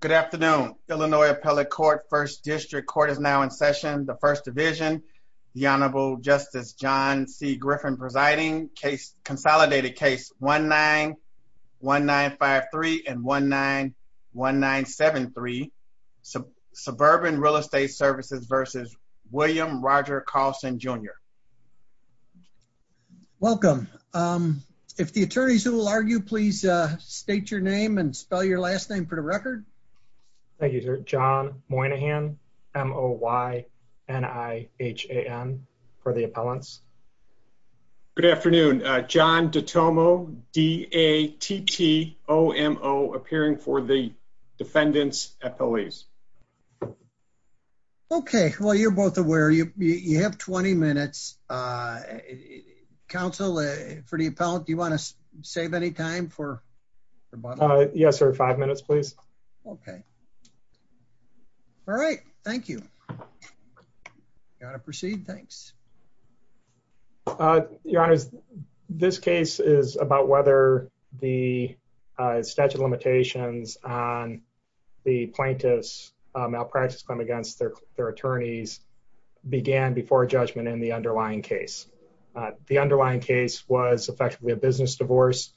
Good afternoon, Illinois Appellate Court, 1st District Court is now in session, 1st Division, the Honorable Justice John C. Griffin presiding, consolidated case 1-9-1-9-5-3 and 1-9-1-9-7-3, Suburban Real Estate Services v. William Roger Carlson, Jr. Welcome, if the attorneys who will argue, please state your name and spell your last name for the record. Thank you, sir. John Moynihan, M-O-Y-N-I-H-A-N, for the appellants. Good afternoon, John DiTomo, D-A-T-T-O-M-O, appearing for the defendants appellees. Okay, well, you're both aware, you have 20 minutes. Council, for the appellant, do you want to save any time for? Yes, sir, five minutes, please. Okay. All right, thank you. You want to proceed? Thanks. Your Honor, this case is about whether the statute of limitations on the plaintiff's malpractice claim against their attorneys began before judgment in the underlying case. The underlying case was effectively a business divorce.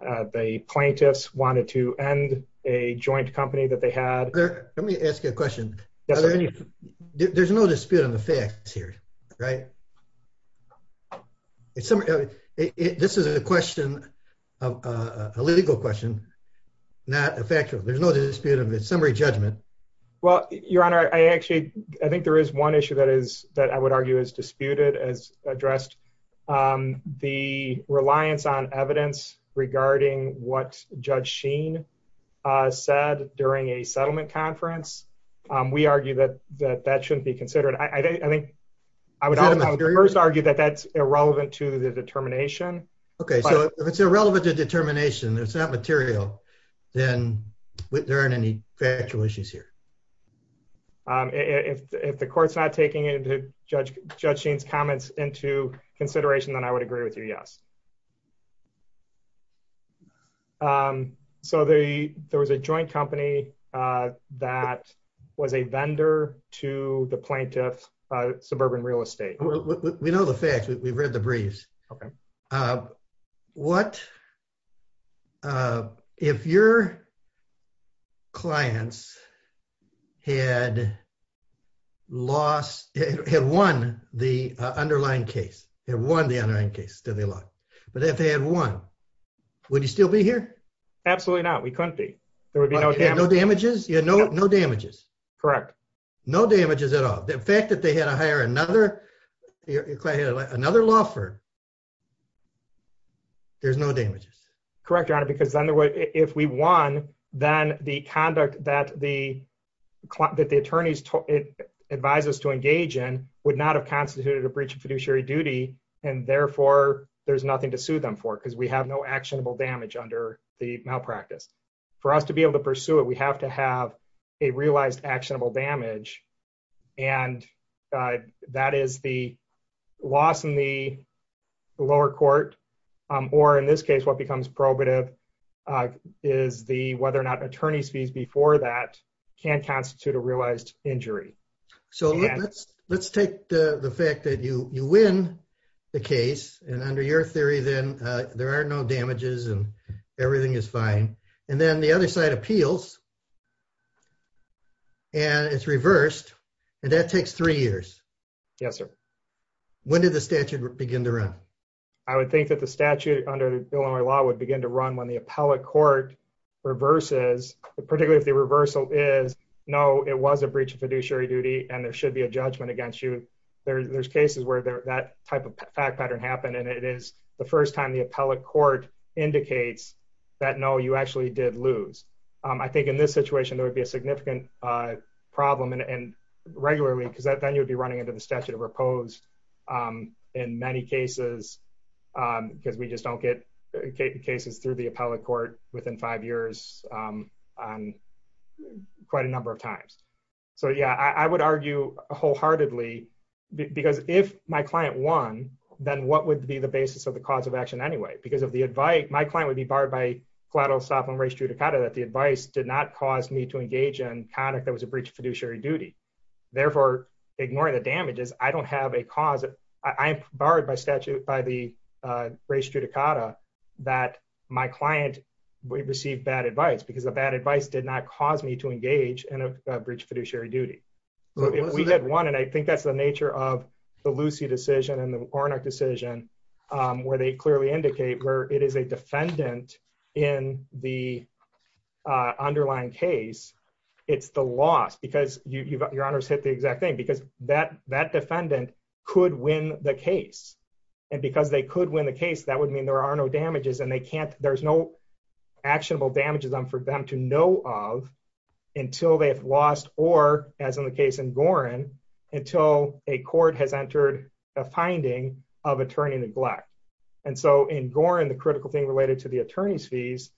The plaintiffs wanted to end a joint company that they had. Let me ask you a question. There's no dispute on the facts here, right? This is a question, a legal question, not a factual. There's no dispute on the summary judgment. Your Honor, I think there is one issue that I would argue is disputed as addressed. The reliance on evidence regarding what Judge Sheen said during a settlement conference, we argue that that shouldn't be considered. I would first argue that that's irrelevant to the determination. Okay, so if it's irrelevant to determination, it's not material, then there aren't any factual issues here. If the court's not taking Judge Sheen's comments into consideration, then I would agree with you, yes. So there was a joint company that was a vendor to the plaintiff's suburban real estate. We know the facts. We've read the briefs. Okay. What if your clients had won the underlying case? But if they had won, would you still be here? Absolutely not. We couldn't be. There would be no damages? No damages. Correct. No damages at all. The fact that they had to hire another law firm, there's no damages. Correct, Your Honor, because if we won, then the conduct that the attorneys advised us to engage in would not have constituted a breach of fiduciary duty, and therefore there's nothing to sue them for because we have no actionable damage under the malpractice. For us to be able to pursue it, we have to have a realized actionable damage and that is the loss in the lower court, or in this case, what becomes probative is whether or not attorney's fees before that can constitute a realized injury. So let's take the fact that you win the case, and under your theory, then there are no damages and everything is fine. And then the other side appeals and it's reversed and that takes three years. Yes, sir. When did the statute begin to run? I would think that the statute under Illinois law would begin to run when the appellate court reverses, particularly if the reversal is, no, it was a breach of fiduciary duty and there should be a judgment against you. There's cases where that type of fact pattern happened and it is the first time the appellate court indicates that no, you actually did lose. I think in this situation, there would be a significant problem and regularly, because then you'd be running into the statute of repose in many cases because we just don't get cases through the appellate court within five years on quite a number of times. So yeah, I would argue wholeheartedly because if my client won, then what would be the basis of the cause of action anyway? Because of the advice, my client would be barred by collateral stop on race judicata that the advice did not cause me to engage in conduct that was a breach of fiduciary duty. Therefore, ignoring the damages, I don't have a cause. I am barred by the race judicata that my client received bad advice because the bad advice did not cause me to engage in a breach of fiduciary duty. We had one and I think that's the nature of the Lucy decision and the Ornick decision where they clearly indicate where it is a defendant in the underlying case. It's the loss because your honors hit the exact thing because that defendant could win the case and because they could win the case, that would mean there are no damages and there's no actionable damages for them to know of until they've lost or as in Gorin, until a court has entered a finding of attorney neglect. And so in Gorin, the critical thing related to the attorney's fees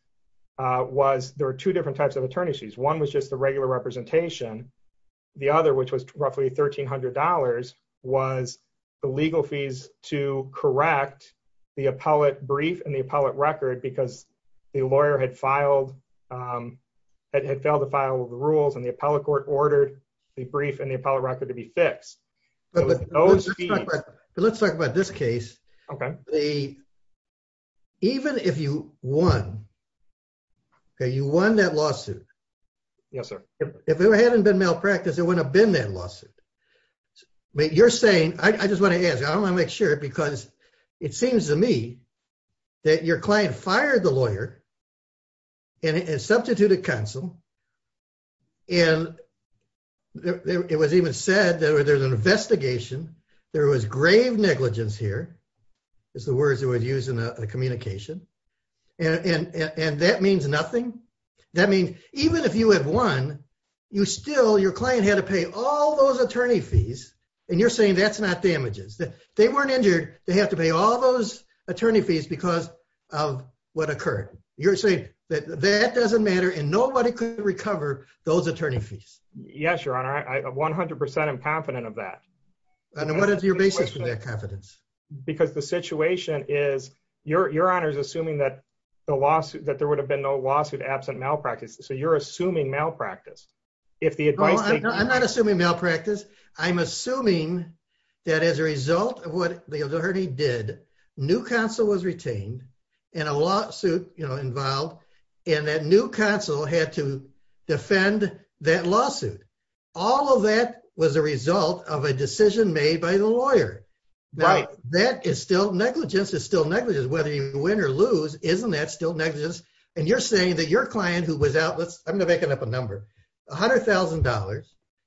was there were two different types of attorney's fees. One was just the regular representation. The other, which was roughly $1,300 was the legal fees to correct the appellate brief and the appellate record because the lawyer had failed to file the rules and the appellate court ordered the brief and the appellate record to be fixed. Let's talk about this case. Even if you won, okay, you won that lawsuit. Yes, sir. If it hadn't been malpractice, it wouldn't have been that lawsuit. You're saying, I just want to ask, I want to make sure because it seems to me that your client fired the lawyer and substituted counsel and it was even said that there was an investigation, there was grave negligence here, is the words they would use in a communication, and that means nothing. That means even if you had won, you still, your client had to pay all those attorney fees and you're saying that's not damages. They weren't injured. They have to pay all those attorney fees because of what occurred. You're saying that that doesn't matter and nobody could recover those attorney fees. Yes, your honor. I'm 100% confident of that. And what is your basis for that confidence? Because the situation is, your honor is assuming that there would have been no lawsuit absent malpractice. So you're assuming malpractice. I'm not assuming malpractice. I'm assuming that as a result of what the attorney did, new counsel was retained and a lawsuit involved and that new counsel had to defend that lawsuit. All of that was a result of a decision made by the lawyer. That is still negligence. It's still negligence. Whether you win or lose, isn't that still negligence? And you're saying that your client who was out, let's, I'm going to make it up a number, $100,000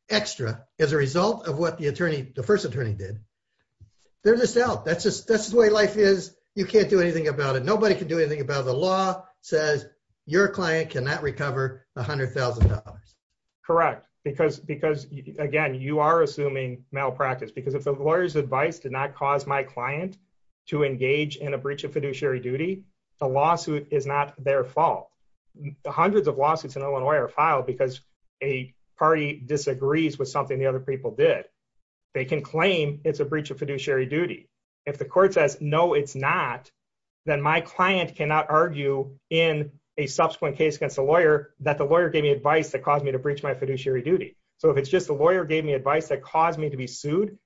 extra as a result of what the attorney, the first attorney did. They're just out. That's just, that's the way life is. You can't do anything about it. Nobody can do anything about it. The law says your client cannot recover $100,000. Correct. Because, because again, you are assuming malpractice because if the lawyer's advice did not fall, the hundreds of lawsuits in Illinois are filed because a party disagrees with something the other people did. They can claim it's a breach of fiduciary duty. If the court says, no, it's not, then my client cannot argue in a subsequent case against the lawyer that the lawyer gave me advice that caused me to breach my fiduciary duty. So if it's just the lawyer gave me advice that caused me to be sued,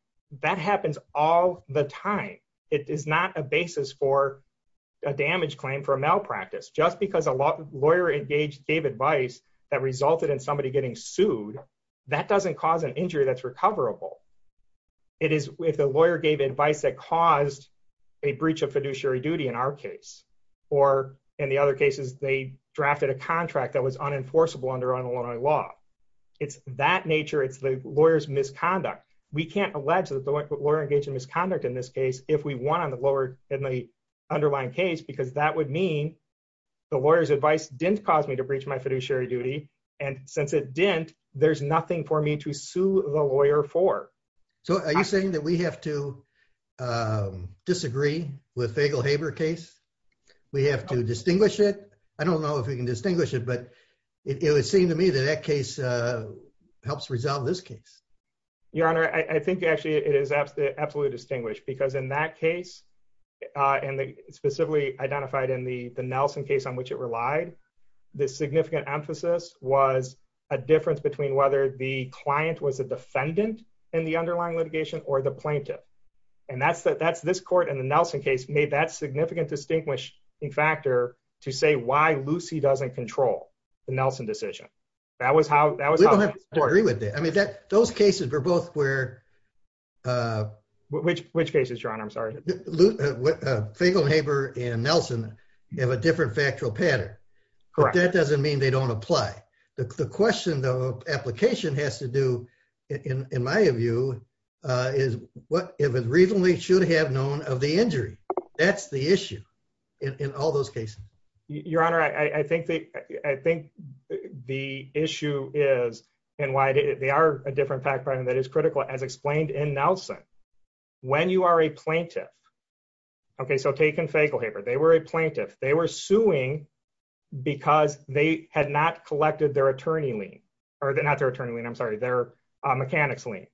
that happens all the time. It is not a basis for a damage claim for a malpractice. Just because a lawyer engaged, gave advice that resulted in somebody getting sued, that doesn't cause an injury that's recoverable. It is if the lawyer gave advice that caused a breach of fiduciary duty in our case, or in the other cases, they drafted a contract that was unenforceable under Illinois law. It's that nature. It's the lawyer's misconduct. We can't allege that the lawyer engaged in misconduct in this case, if we want in the underlying case, because that would mean the lawyer's advice didn't cause me to breach my fiduciary duty. And since it didn't, there's nothing for me to sue the lawyer for. So are you saying that we have to disagree with Fagel-Haber case? We have to distinguish it? I don't know if we can distinguish it, but it would seem to me that that case helps resolve this case. Your Honor, I think actually it is absolutely distinguished, because in that case, and specifically identified in the Nelson case on which it relied, the significant emphasis was a difference between whether the client was a defendant in the underlying litigation or the plaintiff. And that's this court in the Nelson case made that significant distinguishing factor to say why Lucy doesn't control the Nelson decision. That was how- I mean, those cases were both where- Which cases, Your Honor? I'm sorry. Fagel-Haber and Nelson have a different factual pattern. But that doesn't mean they don't apply. The question the application has to do, in my view, is what it reasonably should have known of the injury. That's the issue in all those cases. Your Honor, I think the issue is, they are a different fact pattern that is critical, as explained in Nelson. When you are a plaintiff, okay, so take in Fagel-Haber. They were a plaintiff. They were suing because they had not collected their attorney lien, or not their attorney lien, I'm sorry, their mechanic's lien.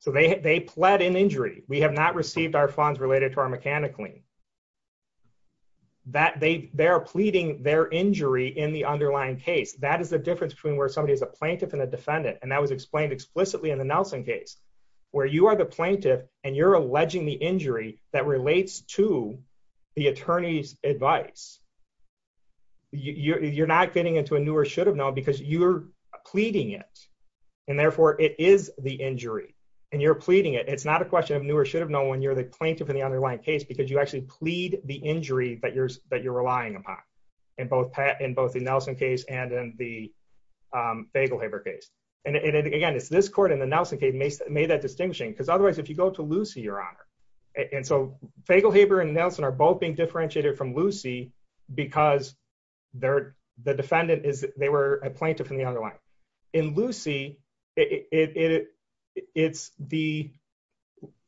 So they pled in injury. We have not received our funds related to our mechanic lien. They are pleading their injury in the underlying case. That is the defendant. And that was explained explicitly in the Nelson case, where you are the plaintiff, and you're alleging the injury that relates to the attorney's advice. You're not getting into a new or should have known because you're pleading it. And therefore, it is the injury. And you're pleading it. It's not a question of new or should have known when you're the plaintiff in the underlying case, because you actually plead the injury that you're relying upon, in both the Nelson case and in the Fagel-Haber case. And again, it's this court in the Nelson case made that distinction, because otherwise, if you go to Lucy, Your Honor, and so Fagel-Haber and Nelson are both being differentiated from Lucy, because the defendant is, they were a plaintiff in the underlying. In Lucy, it's the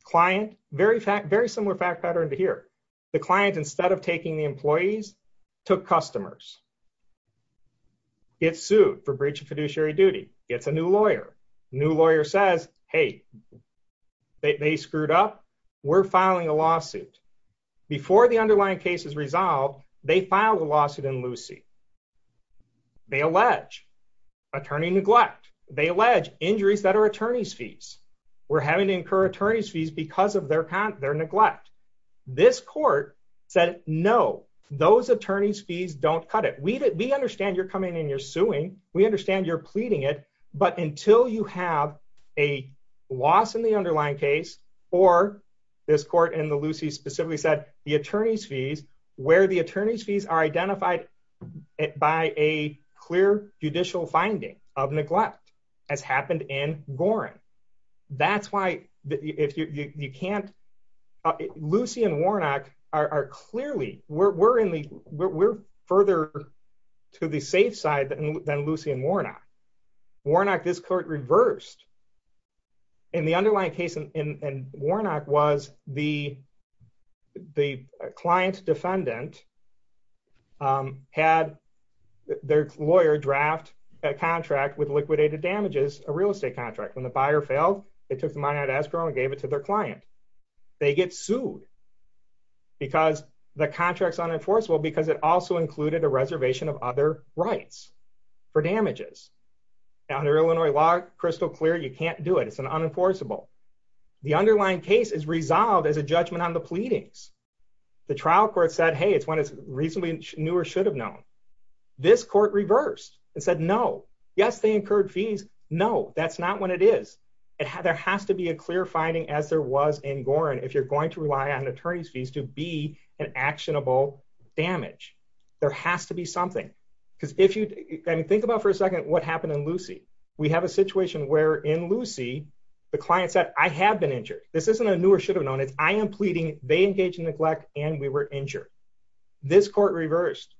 client, very similar fact pattern to here. The client, instead of taking the employees, took customers. It's sued for breach of fiduciary duty. It's a new lawyer. New lawyer says, hey, they screwed up. We're filing a lawsuit. Before the underlying case is resolved, they filed a lawsuit in Lucy. They allege attorney neglect. They allege injuries that are attorney's fees. We're having to incur attorney's fees because of their neglect. This court said, no, those attorney's fees don't cut it. We understand you're coming in and you're suing. We understand you're pleading it. But until you have a loss in the underlying case, or this court in the Lucy specifically said, the attorney's fees, where the attorney's fees are identified by a clear judicial finding of neglect, as happened in Gorin. That's why if you can't, Lucy and Warnock are clearly, we're further to the safe side than Lucy and Warnock. Warnock, this court reversed. The underlying case in Warnock was the client defendant had their lawyer draft a contract with liquidated damages, a real estate contract, when the buyer failed, they took the money out of escrow and gave it to their client. They get sued because the contract's unenforceable because it also included a reservation of other rights for damages. Under Illinois law, crystal clear, you can't do it. It's an unenforceable. The underlying case is resolved as a judgment on the pleadings. The trial court said, hey, it's when it's reasonably new or should have known. This court reversed and said, no. Yes, incurred fees. No, that's not when it is. There has to be a clear finding as there was in Gorin. If you're going to rely on attorney's fees to be an actionable damage, there has to be something. Think about for a second what happened in Lucy. We have a situation where in Lucy, the client said, I have been injured. This isn't a new or should have known. It's I am pleading, they engaged in neglect and we were injured. This court reversed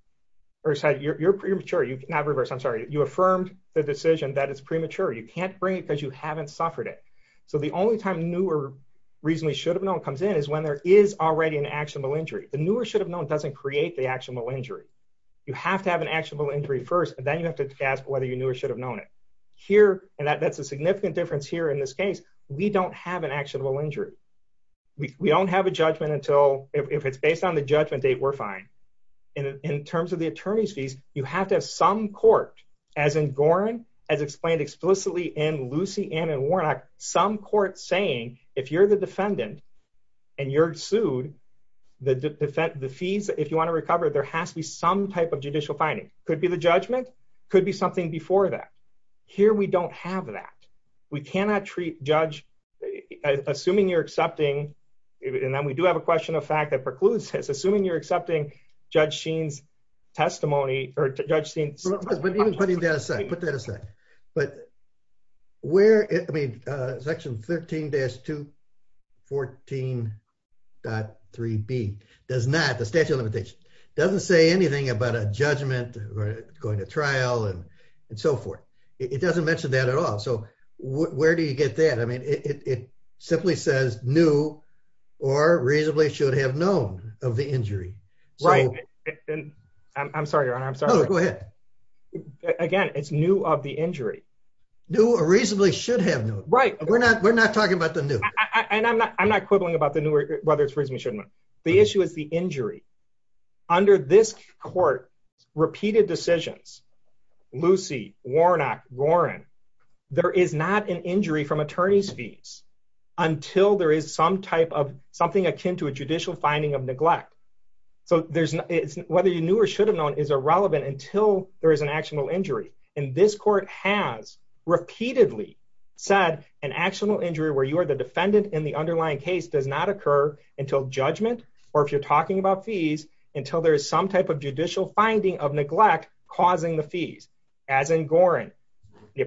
or said, you're premature. You affirmed the decision that it's premature. You can't bring it because you haven't suffered it. So the only time new or reasonably should have known comes in is when there is already an actionable injury. The newer should have known doesn't create the actionable injury. You have to have an actionable injury first, and then you have to ask whether you knew or should have known it. Here, and that's a significant difference here in this case, we don't have an actionable injury. We don't have a judgment until, if it's based on the judgment date, we're fine. In terms of the attorney's fees, you have to have some court, as in Gorin, as explained explicitly in Lucy and in Warnock, some court saying, if you're the defendant and you're sued, the fees, if you want to recover, there has to be some type of judicial finding. Could be the judgment, could be something before that. Here, we don't have that. We cannot treat judge, assuming you're accepting, and then we do have a question of fact that precludes this, Judge Sheen's testimony, or Judge Sheen's- But even putting that aside, put that aside. But where, I mean, section 13-214.3b does not, the statute of limitations, doesn't say anything about a judgment or going to trial and so forth. It doesn't mention that at all. So where do you get that? I mean, it simply says new or reasonably should have known of the injury. So- Right. I'm sorry, Your Honor. I'm sorry. No, go ahead. Again, it's new of the injury. New or reasonably should have known. Right. We're not talking about the new. I'm not quibbling about the new or whether it's reasonably should have known. The issue is the injury. Under this court, repeated decisions, Lucy, Warnock, Gorin, there is not an injury from a judicial finding of neglect. So whether you knew or should have known is irrelevant until there is an actual injury. And this court has repeatedly said an actual injury where you are the defendant in the underlying case does not occur until judgment, or if you're talking about fees, until there is some type of judicial finding of neglect causing the fees. As in Gorin, the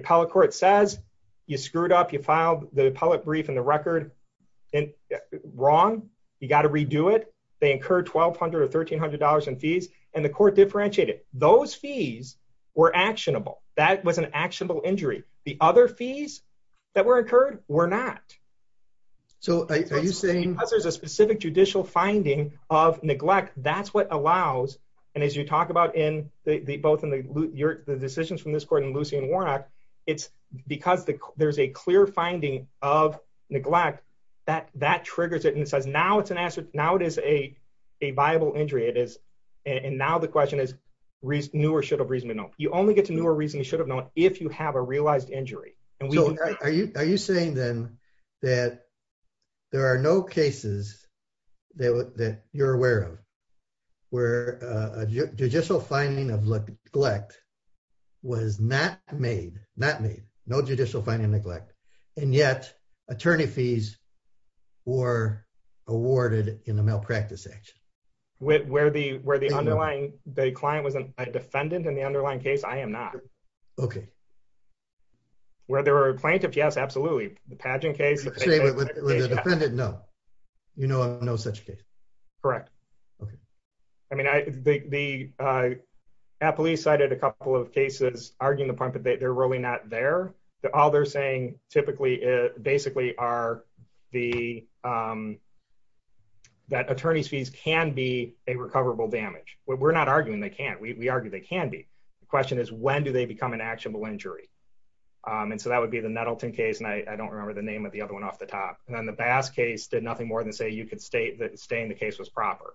got to redo it. They incurred $1,200 or $1,300 in fees, and the court differentiated. Those fees were actionable. That was an actionable injury. The other fees that were incurred were not. So are you saying- Because there's a specific judicial finding of neglect, that's what allows. And as you talk about in both in the decisions from this court and Lucy and Warnock, it's because there's a clear finding of neglect that triggers it and says, now it's an answer. Now it is a viable injury. And now the question is, knew or should have reasonably known. You only get to knew or reasonably should have known if you have a realized injury. And we- So are you saying then that there are no cases that you're aware of where a judicial finding of neglect was not made, not made, no judicial finding of neglect, and yet attorney fees were awarded in a malpractice action? Where the underlying, the client was a defendant in the underlying case, I am not. Okay. Where there were plaintiffs, yes, absolutely. The pageant case- You're saying with the defendant, no. You know of no such case? Correct. Okay. I mean, the police cited a couple of cases arguing the point that they're really not there. All they're saying typically, basically are that attorney's fees can be a recoverable damage. We're not arguing they can't. We argue they can be. The question is, when do they become an actionable injury? And so that would be the Nettleton case. And I don't remember the name of the other one off the top. And then the Bass case did nothing more than say you could state the case was proper.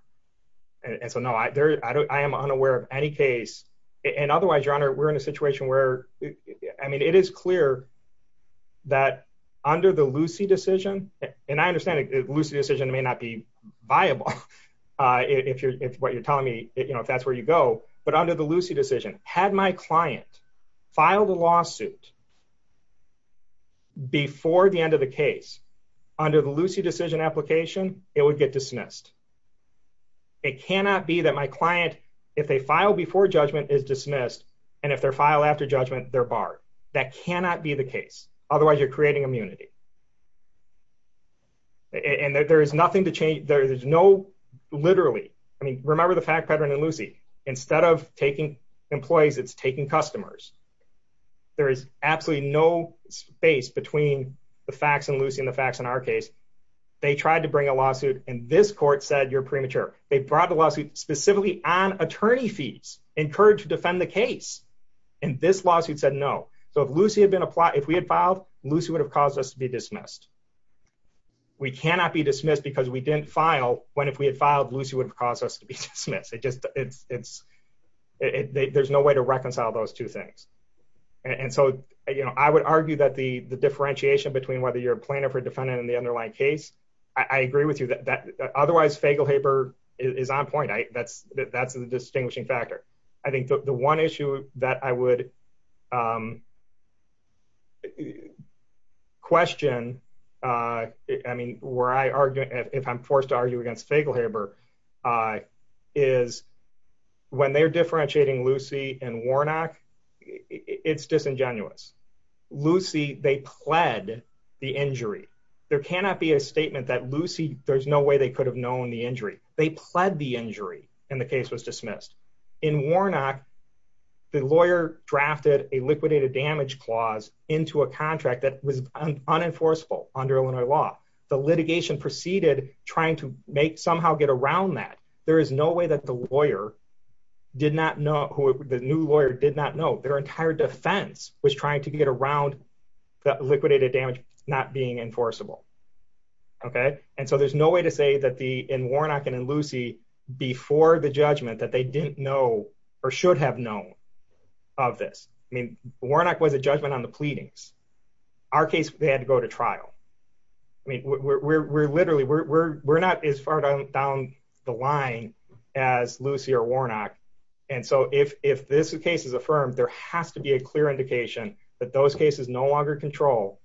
And so no, I am unaware of any case. And otherwise, your honor, we're in a situation where, I mean, it is clear that under the Lucy decision, and I understand Lucy decision may not be viable if what you're telling me, if that's where you go, but under the Lucy decision, had my client filed a lawsuit before the end of the case, under the Lucy decision application, it would get dismissed. It cannot be that my client, if they file before judgment is dismissed. And if they're filed after judgment, they're barred. That cannot be the case. Otherwise you're creating immunity. And there is nothing to change. There is no literally, I mean, remember the fact pattern and Lucy, instead of taking employees, it's taking customers. There is absolutely no space between the facts and Lucy and the facts in our case. They tried to bring a lawsuit and this court said, you're premature. They brought the lawsuit specifically on attorney fees, encouraged to defend the case. And this lawsuit said, no. So if Lucy had been applied, if we had filed Lucy would have caused us to be dismissed. We cannot be dismissed because we didn't file when, if we had filed Lucy would have caused us to be dismissed. There's no way to reconcile those two things. And so, you know, I would argue that the differentiation between whether you're a plaintiff or defendant in the underlying case, I agree with you that otherwise Fagelhaber is on point. That's the distinguishing factor. I think the one issue that I would question, I mean, where I argue, if I'm forced to argue against Fagelhaber, is when they're differentiating Lucy and Warnock, it's disingenuous. Lucy, they pled the injury. There cannot be a statement that Lucy, there's no way they could have known the injury. They pled the injury and the case was dismissed. In Warnock, the lawyer drafted a liquidated damage clause into a contract that was unenforceable under Illinois law. The litigation proceeded trying to make somehow get around that. There is no way that the lawyer did not know, the new lawyer did not know their entire defense was trying to get around that liquidated damage not being enforceable. Okay. And so there's no way to say that the, in Warnock and in Lucy before the judgment that they didn't know or should have known of this. Warnock was a judgment on the pleadings. Our case, they had to go to trial. I mean, we're literally, we're not as far down the line as Lucy or Warnock. And so if this case is affirmed, there has to be a clear indication that those cases no longer control.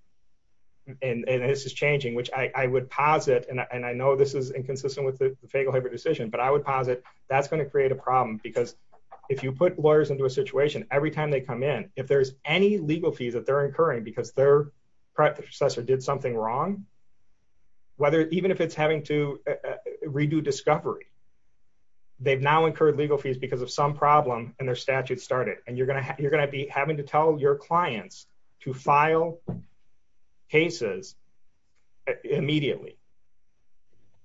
And this is changing, which I would posit, and I know this is inconsistent with the Fagelhaber decision, but I would posit that's going to create a problem because if you put lawyers into a situation, every time they come in, if there's any legal fees that they're incurring, because their predecessor did something wrong, whether, even if it's having to redo discovery, they've now incurred legal fees because of some problem and their statute started. And you're going to have, you're going to be having to tell your clients to file cases immediately.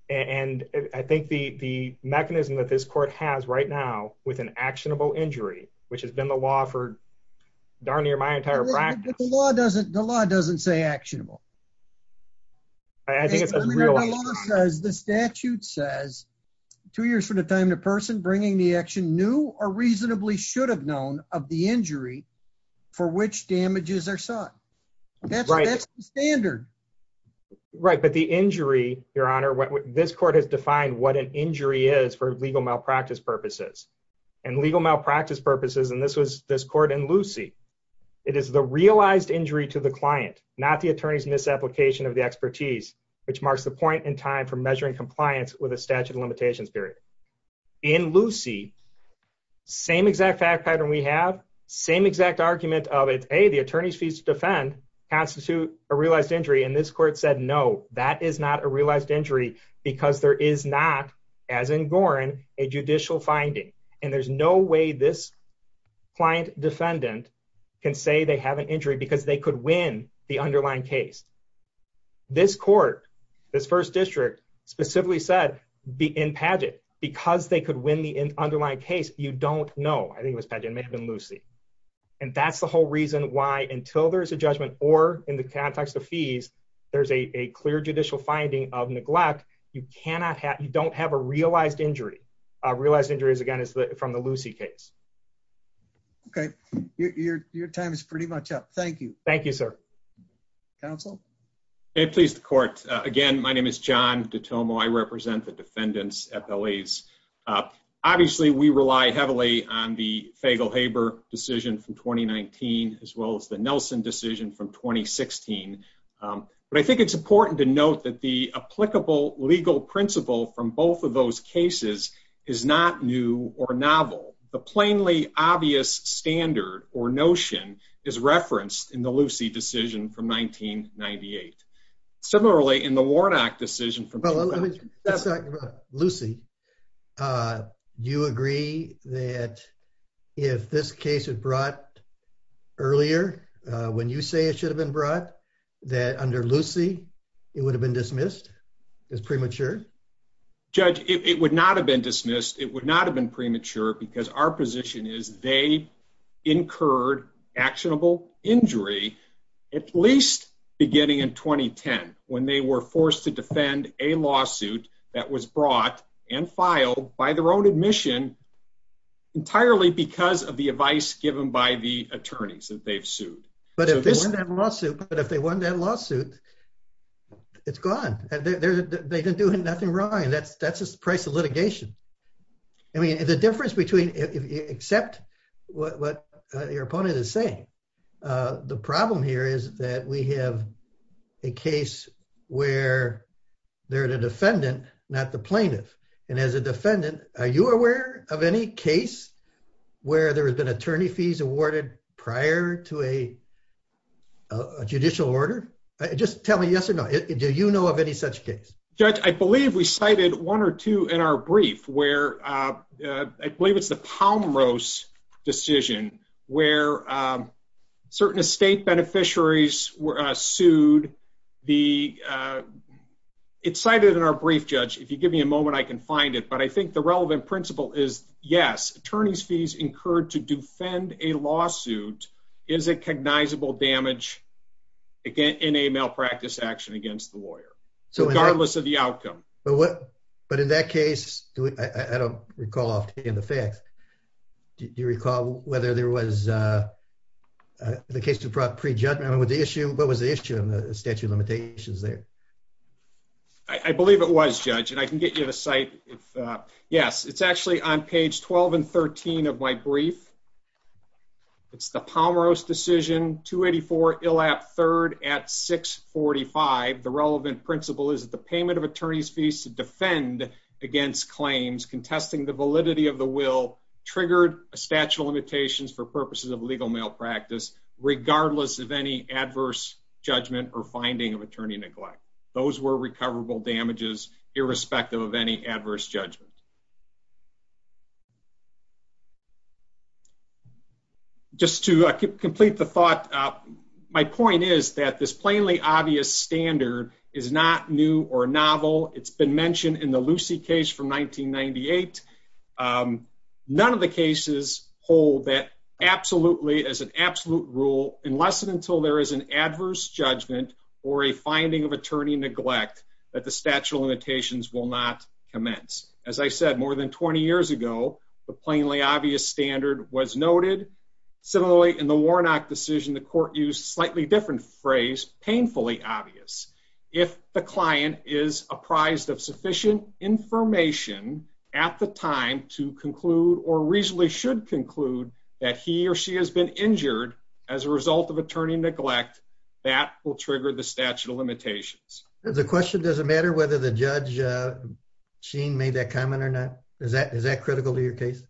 And I think the, the mechanism that this court has right now with an actionable injury, which has been the law for darn near my entire practice. But the law doesn't, the law doesn't say actionable. I think it's a real. The law says, the statute says two years from the time the person bringing the action new or reasonably should have known of the injury for which damages are sought. That's the standard. Right. But the injury, your honor, this court has defined what an injury is for legal malpractice purposes and legal malpractice purposes. And this was this court in Lucy. It is the realized injury to the client, not the attorney's misapplication of the expertise, which marks the point in time for measuring compliance with a statute of limitations period. In Lucy, same exact fact pattern. We have same exact argument of it. Hey, the attorney's fees to defend constitute a realized injury. And this court said, no, that is not a realized injury because there is not as in Gorin, a judicial finding. And there's no way this client defendant can say they have an injury because they could win the underlying case. This court, this first district specifically said be in pageant because they could win the underlying case. You don't know. I think it was pageant may have been Lucy. And that's the whole reason why, until there's a judgment or in the context of fees, there's a clear judicial finding of neglect. You cannot have, you don't have a realized injury. A realized injury is again, is that from the Lucy case? Okay. Your, your, your time is pretty much up. Thank you. Thank you, sir. Counsel. Hey, please. The court again, my name is John Dittomo. I represent the defendants at Belize. Uh, obviously we rely heavily on the fable Haber decision from 2019, as well as the Nelson decision from 2016. Um, but I think it's important to note that the applicable legal principle from both of those cases is not new or novel. The plainly obvious standard or notion is referenced in the Lucy decision from 1998. Similarly in the Warnock decision from Lucy. Uh, do you agree that if this case had brought earlier, uh, when you say it should have been brought that under Lucy, it would have been dismissed as premature. Judge, it would not have been dismissed. It would not have been premature because our position is they incurred actionable injury, at least beginning in 2010, when they were forced to defend a lawsuit that was brought and filed by their own admission entirely because of the advice given by the attorneys that they've sued. But if this lawsuit, but if they won that lawsuit, it's gone. They didn't do nothing wrong. And that's, that's just the price of litigation. I mean, the difference between except what your opponent is saying, uh, the problem here is that we have a case where they're the defendant, not the plaintiff. And as a defendant, are you aware of any case where there has been attorney fees awarded prior to a judicial order? Just tell me, yes or no. Do you know of any such case? Judge, I believe we cited one or two in our brief where, I believe it's the Palm Rose decision where, um, certain estate beneficiaries were sued. The, uh, it's cited in our brief judge. If you give me a moment, I can find it. But I think the relevant principle is yes. Attorney's fees incurred to defend a lawsuit is a cognizable damage in a malpractice action against the lawyer. So regardless of the outcome. But what, but in that case, I don't recall often in the facts. Do you recall whether there was, uh, uh, the case to prep prejudgment with the issue? What was the issue in the statute of limitations there? I believe it was judge and I can get you the site if, uh, yes, it's actually on page 12 and 13 of my brief. It's the Palm Rose decision to 84 ill app third at six 45. The relevant principle is that the payment of attorney's fees to defend against claims contesting the validity of the will triggered a statute of limitations for purposes of legal malpractice, regardless of any adverse judgment or finding of attorney neglect. Those were recoverable damages, irrespective of any adverse judgment. Just to complete the thought. My point is that this plainly obvious standard is not new or novel. It's been mentioned in the Lucy case from 1998. None of the cases hold that absolutely as an absolute rule unless and until there is an adverse judgment or a finding of attorney neglect that the statute of limitations will not commence. As I said more than 20 years ago, the plainly obvious standard was noted. Similarly, in the Warnock decision, the court used slightly different phrase painfully obvious. If the client is apprised of sufficient information at the time to conclude or reasonably should conclude that he or she has been injured as a result of attorney neglect, that will trigger the statute of limitations. The question doesn't matter whether the judge Sheen made that comment or not. Is that critical to your case?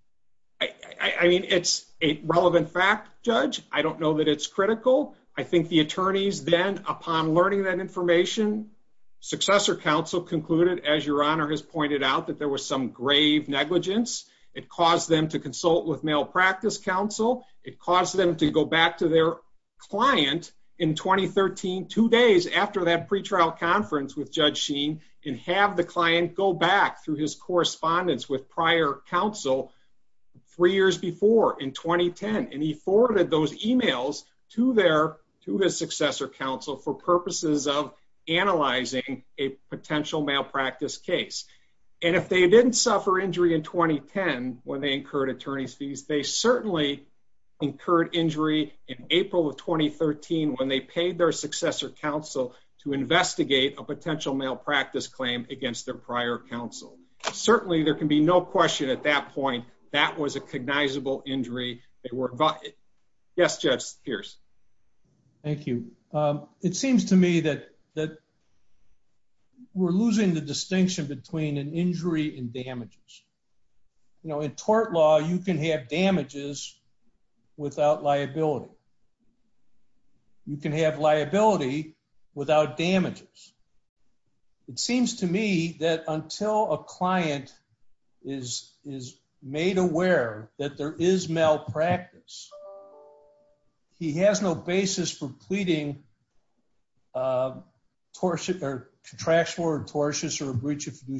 I mean, it's a relevant fact, Judge. I don't know that it's critical. I think the attorneys then, upon learning that information, successor counsel concluded, as Your Honor has pointed out, that there was some grave negligence. It caused them to consult with malpractice counsel. It caused them to go back to their and have the client go back through his correspondence with prior counsel three years before in 2010. He forwarded those emails to his successor counsel for purposes of analyzing a potential malpractice case. If they didn't suffer injury in 2010 when they incurred attorney's fees, they certainly incurred injury in April of 2013 when they paid their successor counsel to investigate a potential malpractice claim against their prior counsel. Certainly there can be no question at that point that was a cognizable injury. Yes, Judge Pierce. Thank you. It seems to me that we're losing the distinction between an injury and damages. You know, in tort law, you can have damages without liability. You can have liability without damages. It seems to me that until a client is made aware that there is malpractice, he has no basis for pleading contractual or tortious or breach of you're going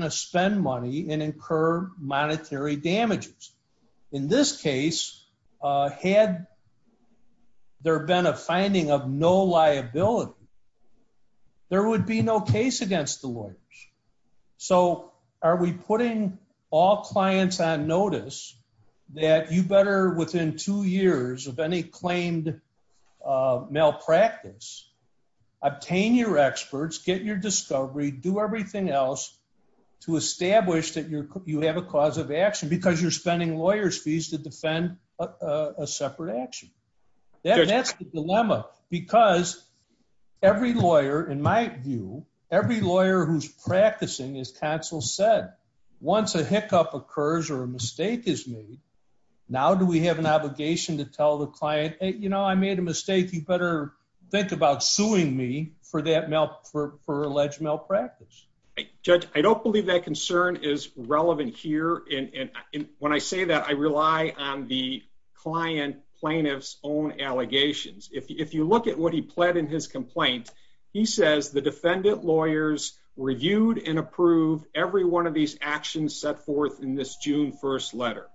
to spend money and incur monetary damages. In this case, had there been a finding of no liability, there would be no case against the lawyers. So are we putting all clients on notice that you better within two years of any claimed malpractice, obtain your experts, get your discovery, do everything else to establish that you have a cause of action because you're spending lawyers' fees to defend a separate action? That's the dilemma because every lawyer, in my view, every lawyer who's practicing, as counsel said, once a hiccup occurs or a mistake is made, now do we have an obligation to tell the client, hey, you know, I made a mistake. You better think about suing me for that malpractice, for alleged malpractice? Judge, I don't believe that concern is relevant here. And when I say that, I rely on the client plaintiff's own allegations. If you look at what he pled in his complaint, he says the defendant lawyers reviewed and approved every of these actions set forth in this June 1st letter.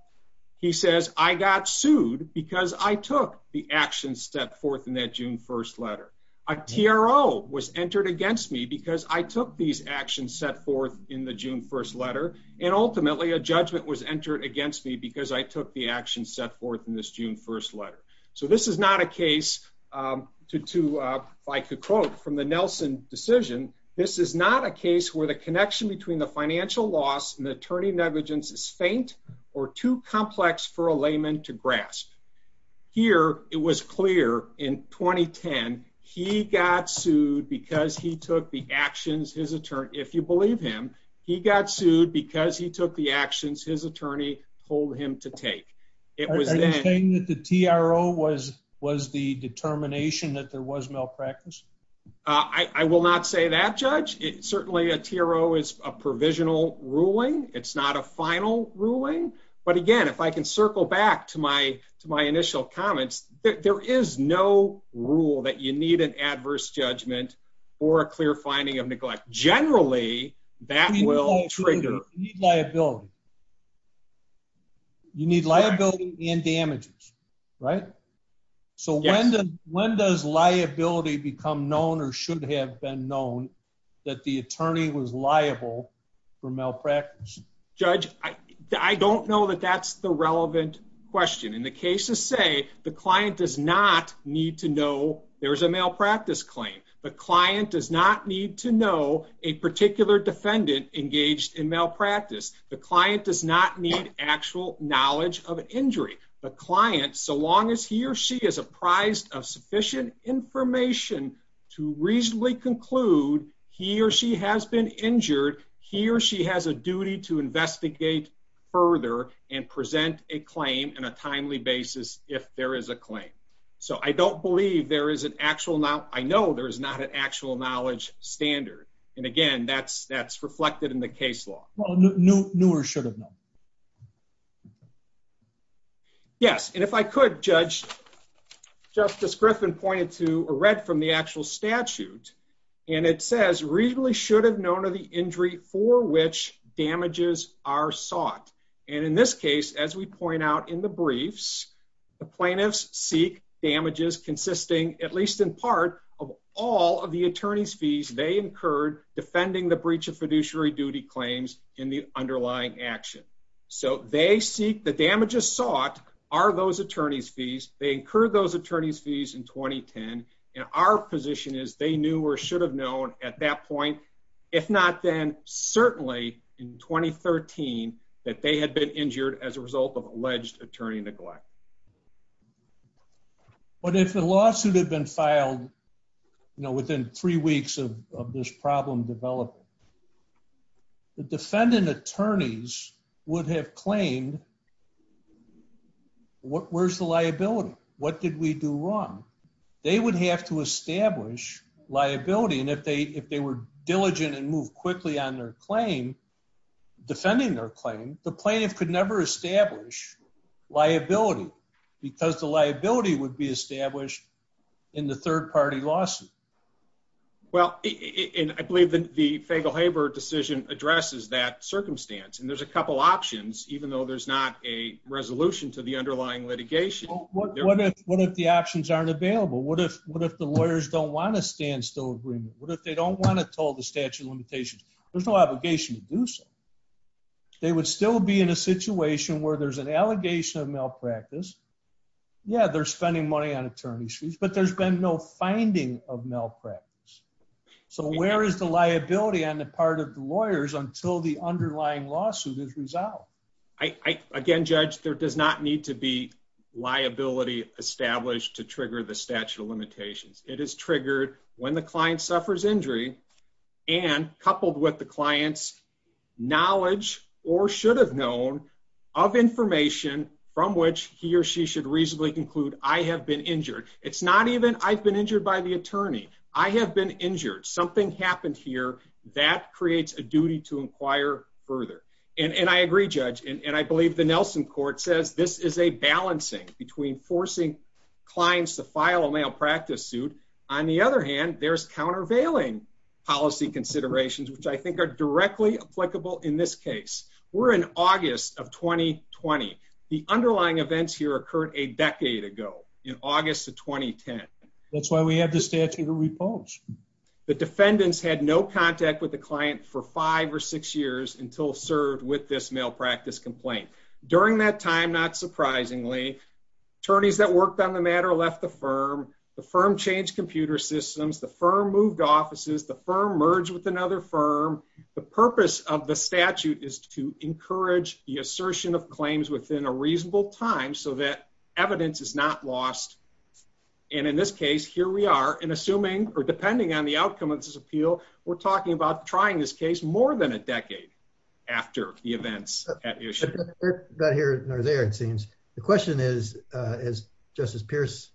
He says I got sued because I took the actions set forth in that June 1st letter. A TRO was entered against me because I took these actions set forth in the June 1st letter. And ultimately a judgment was entered against me because I took the actions set forth in this June 1st letter. So this is not a case to, if I could quote from the Nelson decision, this is not a case where the connection between the financial loss and the attorney negligence is faint or too complex for a layman to grasp. Here it was clear in 2010 he got sued because he took the actions his attorney, if you believe him, he got sued because he took the actions his attorney told him to take. Are you saying that the TRO was the determination that there was malpractice? I will not say that judge. Certainly a TRO is a provisional ruling. It's not a final ruling. But again, if I can circle back to my initial comments, there is no rule that you need an adverse judgment or a clear finding of neglect. Generally that will trigger liability. You need liability and damages, right? So when does liability become known or should have been known that the attorney was liable for malpractice? Judge, I don't know that that's the relevant question. In the cases say the client does not need to know there's a malpractice claim. The client does not need to know a particular defendant engaged in malpractice. The client does not need actual knowledge of an injury. The client, so long as he or she is apprised of sufficient information to reasonably conclude he or she has been injured, he or she has a duty to investigate further and present a claim in a case. I don't believe there is an actual, I know there is not an actual knowledge standard. And again, that's reflected in the case law. Newer should have known. Yes. And if I could judge, Justice Griffin pointed to a read from the actual statute and it says reasonably should have known of the injury for which damages are sought. And in this as we point out in the briefs, the plaintiffs seek damages consisting at least in part of all of the attorney's fees they incurred defending the breach of fiduciary duty claims in the underlying action. So they seek the damages sought are those attorney's fees. They incurred those attorney's fees in 2010. And our position is they knew or should have known at that point, if not then certainly in 2013, that they had been injured as a result of alleged attorney neglect. But if the lawsuit had been filed, you know, within three weeks of this problem developing, the defendant attorneys would have claimed, where's the liability? What did we do wrong? They would have to establish liability. And if they were diligent and move quickly on their claim, defending their claim, the plaintiff could never establish liability because the liability would be established in the third party lawsuit. Well, and I believe that the Fagel-Haber decision addresses that circumstance. And there's a couple options, even though there's not a resolution to the underlying litigation. What if the options aren't available? What if the lawyers don't want to stand still agreement? What if they don't want to tell the statute of limitations? There's no obligation to do so. They would still be in a situation where there's an allegation of malpractice. Yeah, they're spending money on attorney's fees, but there's been no finding of malpractice. So where is the liability on the part of the lawyers until the underlying lawsuit is resolved? Again, Judge, there does not need to be liability established to trigger the statute of limitations. It is triggered when the client suffers injury and coupled with the client's knowledge or should have known of information from which he or she should reasonably conclude, I have been injured. It's not even I've been injured by the attorney. I have been injured. Something happened here that creates a duty to inquire further. And I agree, Judge. And I believe the Nelson court says this is a balancing between forcing clients to file a malpractice suit. On the other hand, there's countervailing policy considerations, which I think are directly applicable in this case. We're in August of 2020. The underlying events here occurred a decade ago in August of 2010. That's why we have the statute of repose. The defendants had no contact with the During that time, not surprisingly, attorneys that worked on the matter left the firm, the firm changed computer systems, the firm moved offices, the firm merged with another firm. The purpose of the statute is to encourage the assertion of claims within a reasonable time so that evidence is not lost. And in this case, here we are. And assuming or depending on the outcome of this appeal, we're talking about trying this case more than a decade after the events at issue. But here or there, it seems. The question is, as Justice Pierce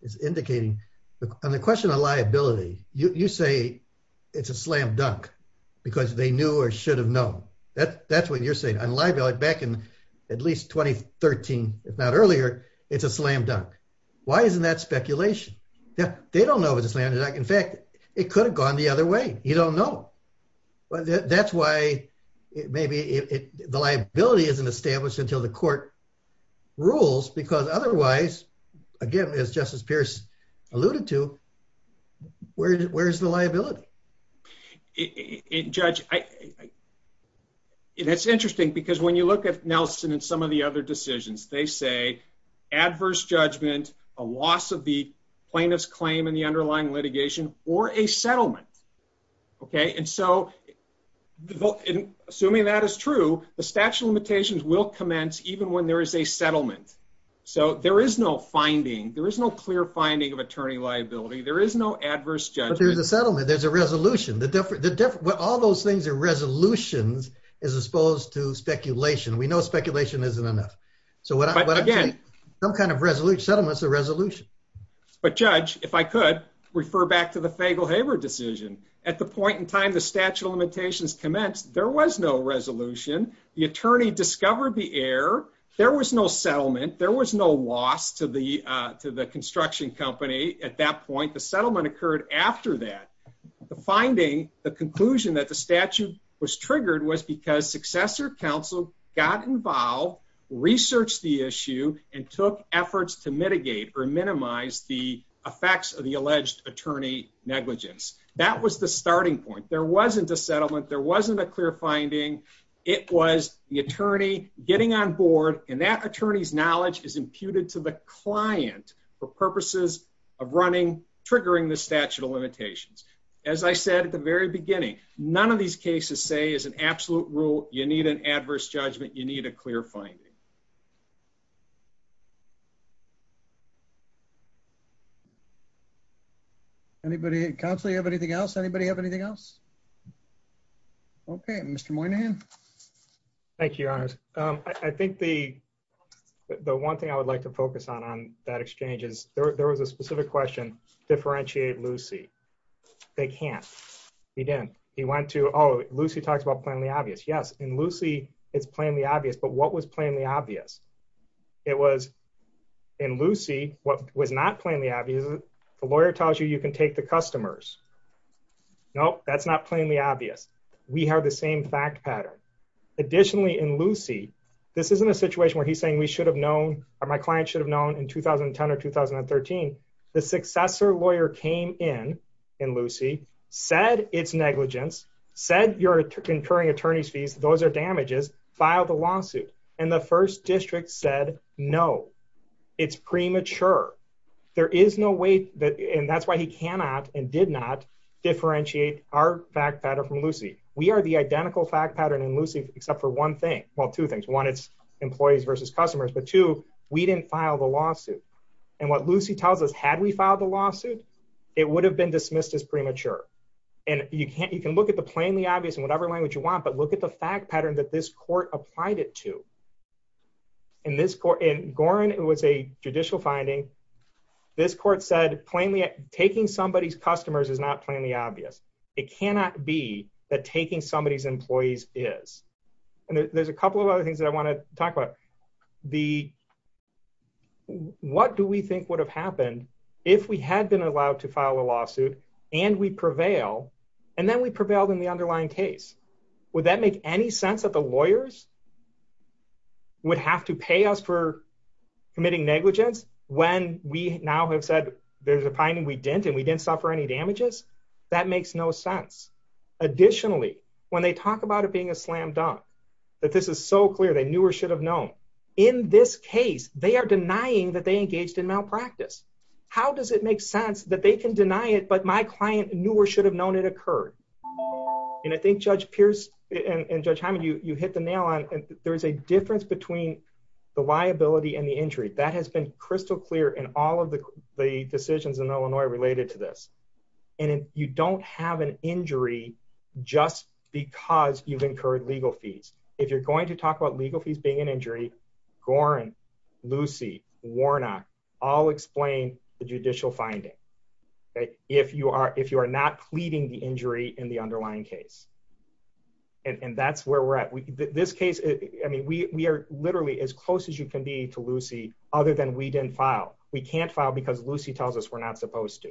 is indicating, on the question of liability, you say it's a slam dunk because they knew or should have known. That's what you're saying. On liability, back in at least 2013, if not earlier, it's a slam dunk. Why isn't that speculation? They don't know it was a slam dunk. In fact, it could have gone the other way. You don't until the court rules because otherwise, again, as Justice Pierce alluded to, where's the liability? Judge, it's interesting because when you look at Nelson and some of the other decisions, they say adverse judgment, a loss of the plaintiff's claim in the underlying litigation or a settlement. Okay. And so assuming that is true, the statute of limitations will commence even when there is a settlement. So there is no finding. There is no clear finding of attorney liability. There is no adverse judgment. But there's a settlement. There's a resolution. All those things are resolutions as opposed to speculation. We know speculation isn't enough. But again, some kind of settlement is a resolution. But Judge, if I could, refer back to the Fagel-Haber decision. At the point in time the statute of limitations commenced, there was no resolution. The attorney discovered the error. There was no settlement. There was no loss to the construction company at that point. The settlement occurred after that. The finding, the conclusion that the statute was triggered was because successor counsel got involved, researched the issue, and took efforts to mitigate or minimize the effects of the alleged attorney negligence. That was the starting point. There wasn't a settlement. There wasn't a clear finding. It was the attorney getting on board, and that attorney's knowledge is imputed to the client for purposes of running, triggering the statute of limitations. As I said at the very beginning, none of these cases say as an absolute rule, you need an adverse judgment, you need a clear finding. I think that's all I have to say. Anybody, Counselor, you have anything else? Anybody have anything else? Okay, Mr. Moynihan. Thank you, Your Honors. I think the one thing I would like to focus on on that exchange is there was a specific question, differentiate Lucy. They can't. He didn't. He went to, oh, Lucy talks about plainly obvious. Yes, in Lucy, it's plainly obvious, but what was plainly obvious? It was in Lucy, what was not plainly obvious, the lawyer tells you you can take the customers. No, that's not plainly obvious. We have the same fact pattern. Additionally, in Lucy, this isn't a situation where he's saying we should have known or my client should have known in 2010 or 2013, the successor lawyer came in, in Lucy, said it's negligence, said you're incurring attorney's fees, those are damages, filed a lawsuit. And the first district said, no, it's premature. There is no way that, and that's why he cannot and did not differentiate our fact pattern from Lucy. We are the identical fact pattern in Lucy, except for one thing. Well, two things, one, it's employees versus customers, but two, we didn't file the lawsuit. And what Lucy tells us, had we filed a lawsuit, it would have been dismissed as premature. And you can't, you can look at the plainly obvious in whatever language you want, but look at the fact pattern that this court applied it to. In this court, in Gorin, it was a judicial finding. This court said, plainly taking somebody's customers is not plainly obvious. It cannot be that taking somebody's employees is. And there's a couple of other things that I want to talk about. The, what do we think would have happened if we had been allowed to file a lawsuit and we prevail, and then we prevailed in the underlying case? Would that make any sense that the lawyers would have to pay us for committing negligence when we now have said there's a that makes no sense. Additionally, when they talk about it being a slam dunk, that this is so clear, they knew or should have known in this case, they are denying that they engaged in malpractice. How does it make sense that they can deny it, but my client knew or should have known it occurred. And I think judge Pierce and judge Hammond, you hit the nail on, there's a difference between the liability and the injury that has been crystal clear in all of the, the decisions in Illinois related to this. And you don't have an injury just because you've incurred legal fees. If you're going to talk about legal fees being an injury, Gorin, Lucy, Warnock, all explain the judicial finding. If you are, if you are not pleading the injury in the underlying case. And that's where we're at. We, this case, I mean, we, we are literally as close as you can be to Lucy, other than we didn't file. We can't file because Lucy tells us we're not supposed to.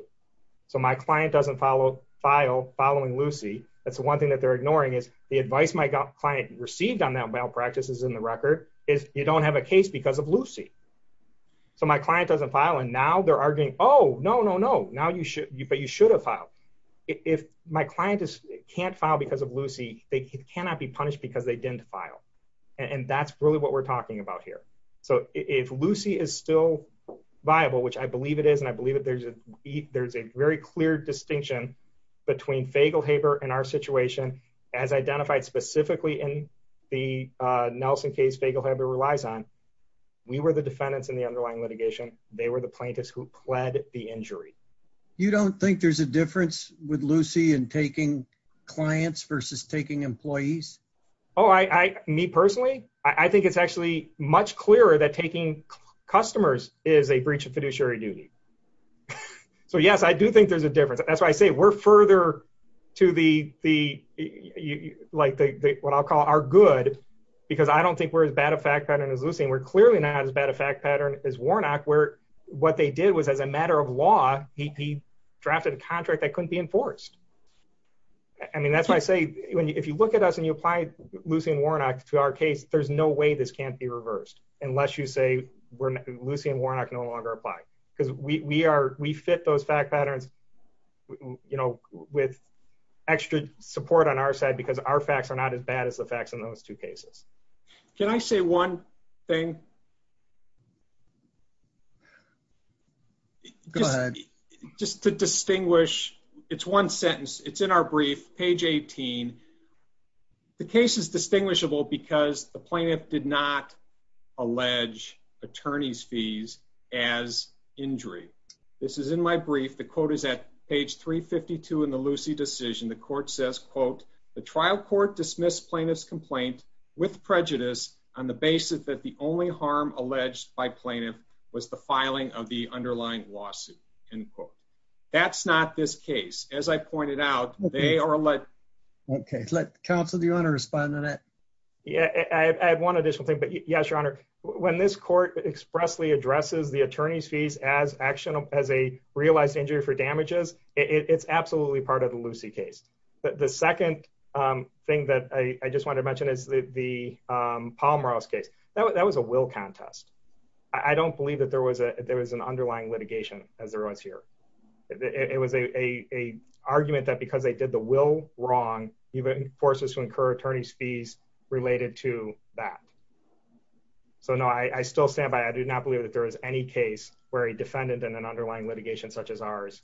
So my client doesn't follow file following Lucy. That's the one thing that they're ignoring is the advice my client received on that malpractice is in the record is you don't have a case because of Lucy. So my client doesn't file. And now they're arguing, Oh no, no, no. Now you should, but you should have filed. If my client is can't file because of Lucy, they cannot be punished because they didn't file. And that's really what we're talking about here. So if Lucy is still viable, which I believe it is. And I believe that there's a, there's a very clear distinction between fable Haber and our situation as identified specifically in the Nelson case, fable Haber relies on. We were the defendants in the underlying litigation. They were the plaintiffs who pled the injury. You don't think there's a difference with Lucy and taking clients versus taking employees? Oh, I, I, me personally, I think it's actually much clearer that taking customers is a breach of fiduciary duty. So yes, I do think there's a difference. That's why I say we're further to the, the like the, the, what I'll call our good, because I don't think we're as bad a fact pattern as Lucy. And we're clearly not as bad a fact pattern is Warnock where what they did was as a matter of law, he, he drafted a contract that couldn't be enforced. I mean, that's why I say, if you look at us and you apply Lucy and Warnock to our case, there's no way this can't be reversed unless you say we're Lucy and Warnock no longer apply because we are, we fit those fact patterns, you know, with extra support on our side, because our facts are not as bad as the facts in those two cases. Can I say one thing? Go ahead. Just to distinguish it's one sentence. It's in our brief page 18. The case is distinguishable because the plaintiff did not allege attorney's fees as injury. This is in my brief. The quote is at page 352 in the Lucy decision. The court says, quote, the trial court dismissed plaintiff's complaint with prejudice on the basis that the only harm alleged by plaintiff was the filing of the underlying lawsuit. End quote. That's not this case. As I pointed out, they are like, okay, let the council, the owner respond to that. Yeah, I have one additional thing, but yes, your honor, when this court expressly addresses the attorney's fees as actionable as a realized injury for damages, it's absolutely part of the Lucy case. But the second thing that I just wanted to mention is the, um, Paul Morales case. That was a will contest. I don't believe that there was a, there was an underlying litigation as there was here. It was a, a, a argument that because they did the will wrong, even forces to incur attorney's fees related to that. So no, I still stand by. I do not believe that there is any case where a defendant and an underlying litigation such as ours,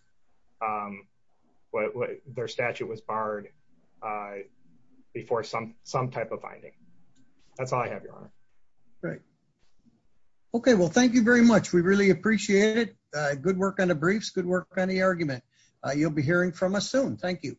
um, what their statute was barred, uh, before some, some type of finding. That's all great. Okay. Well, thank you very much. We really appreciate it. Uh, good work on the briefs. Good work on the argument. Uh, you'll be hearing from us soon. Thank you.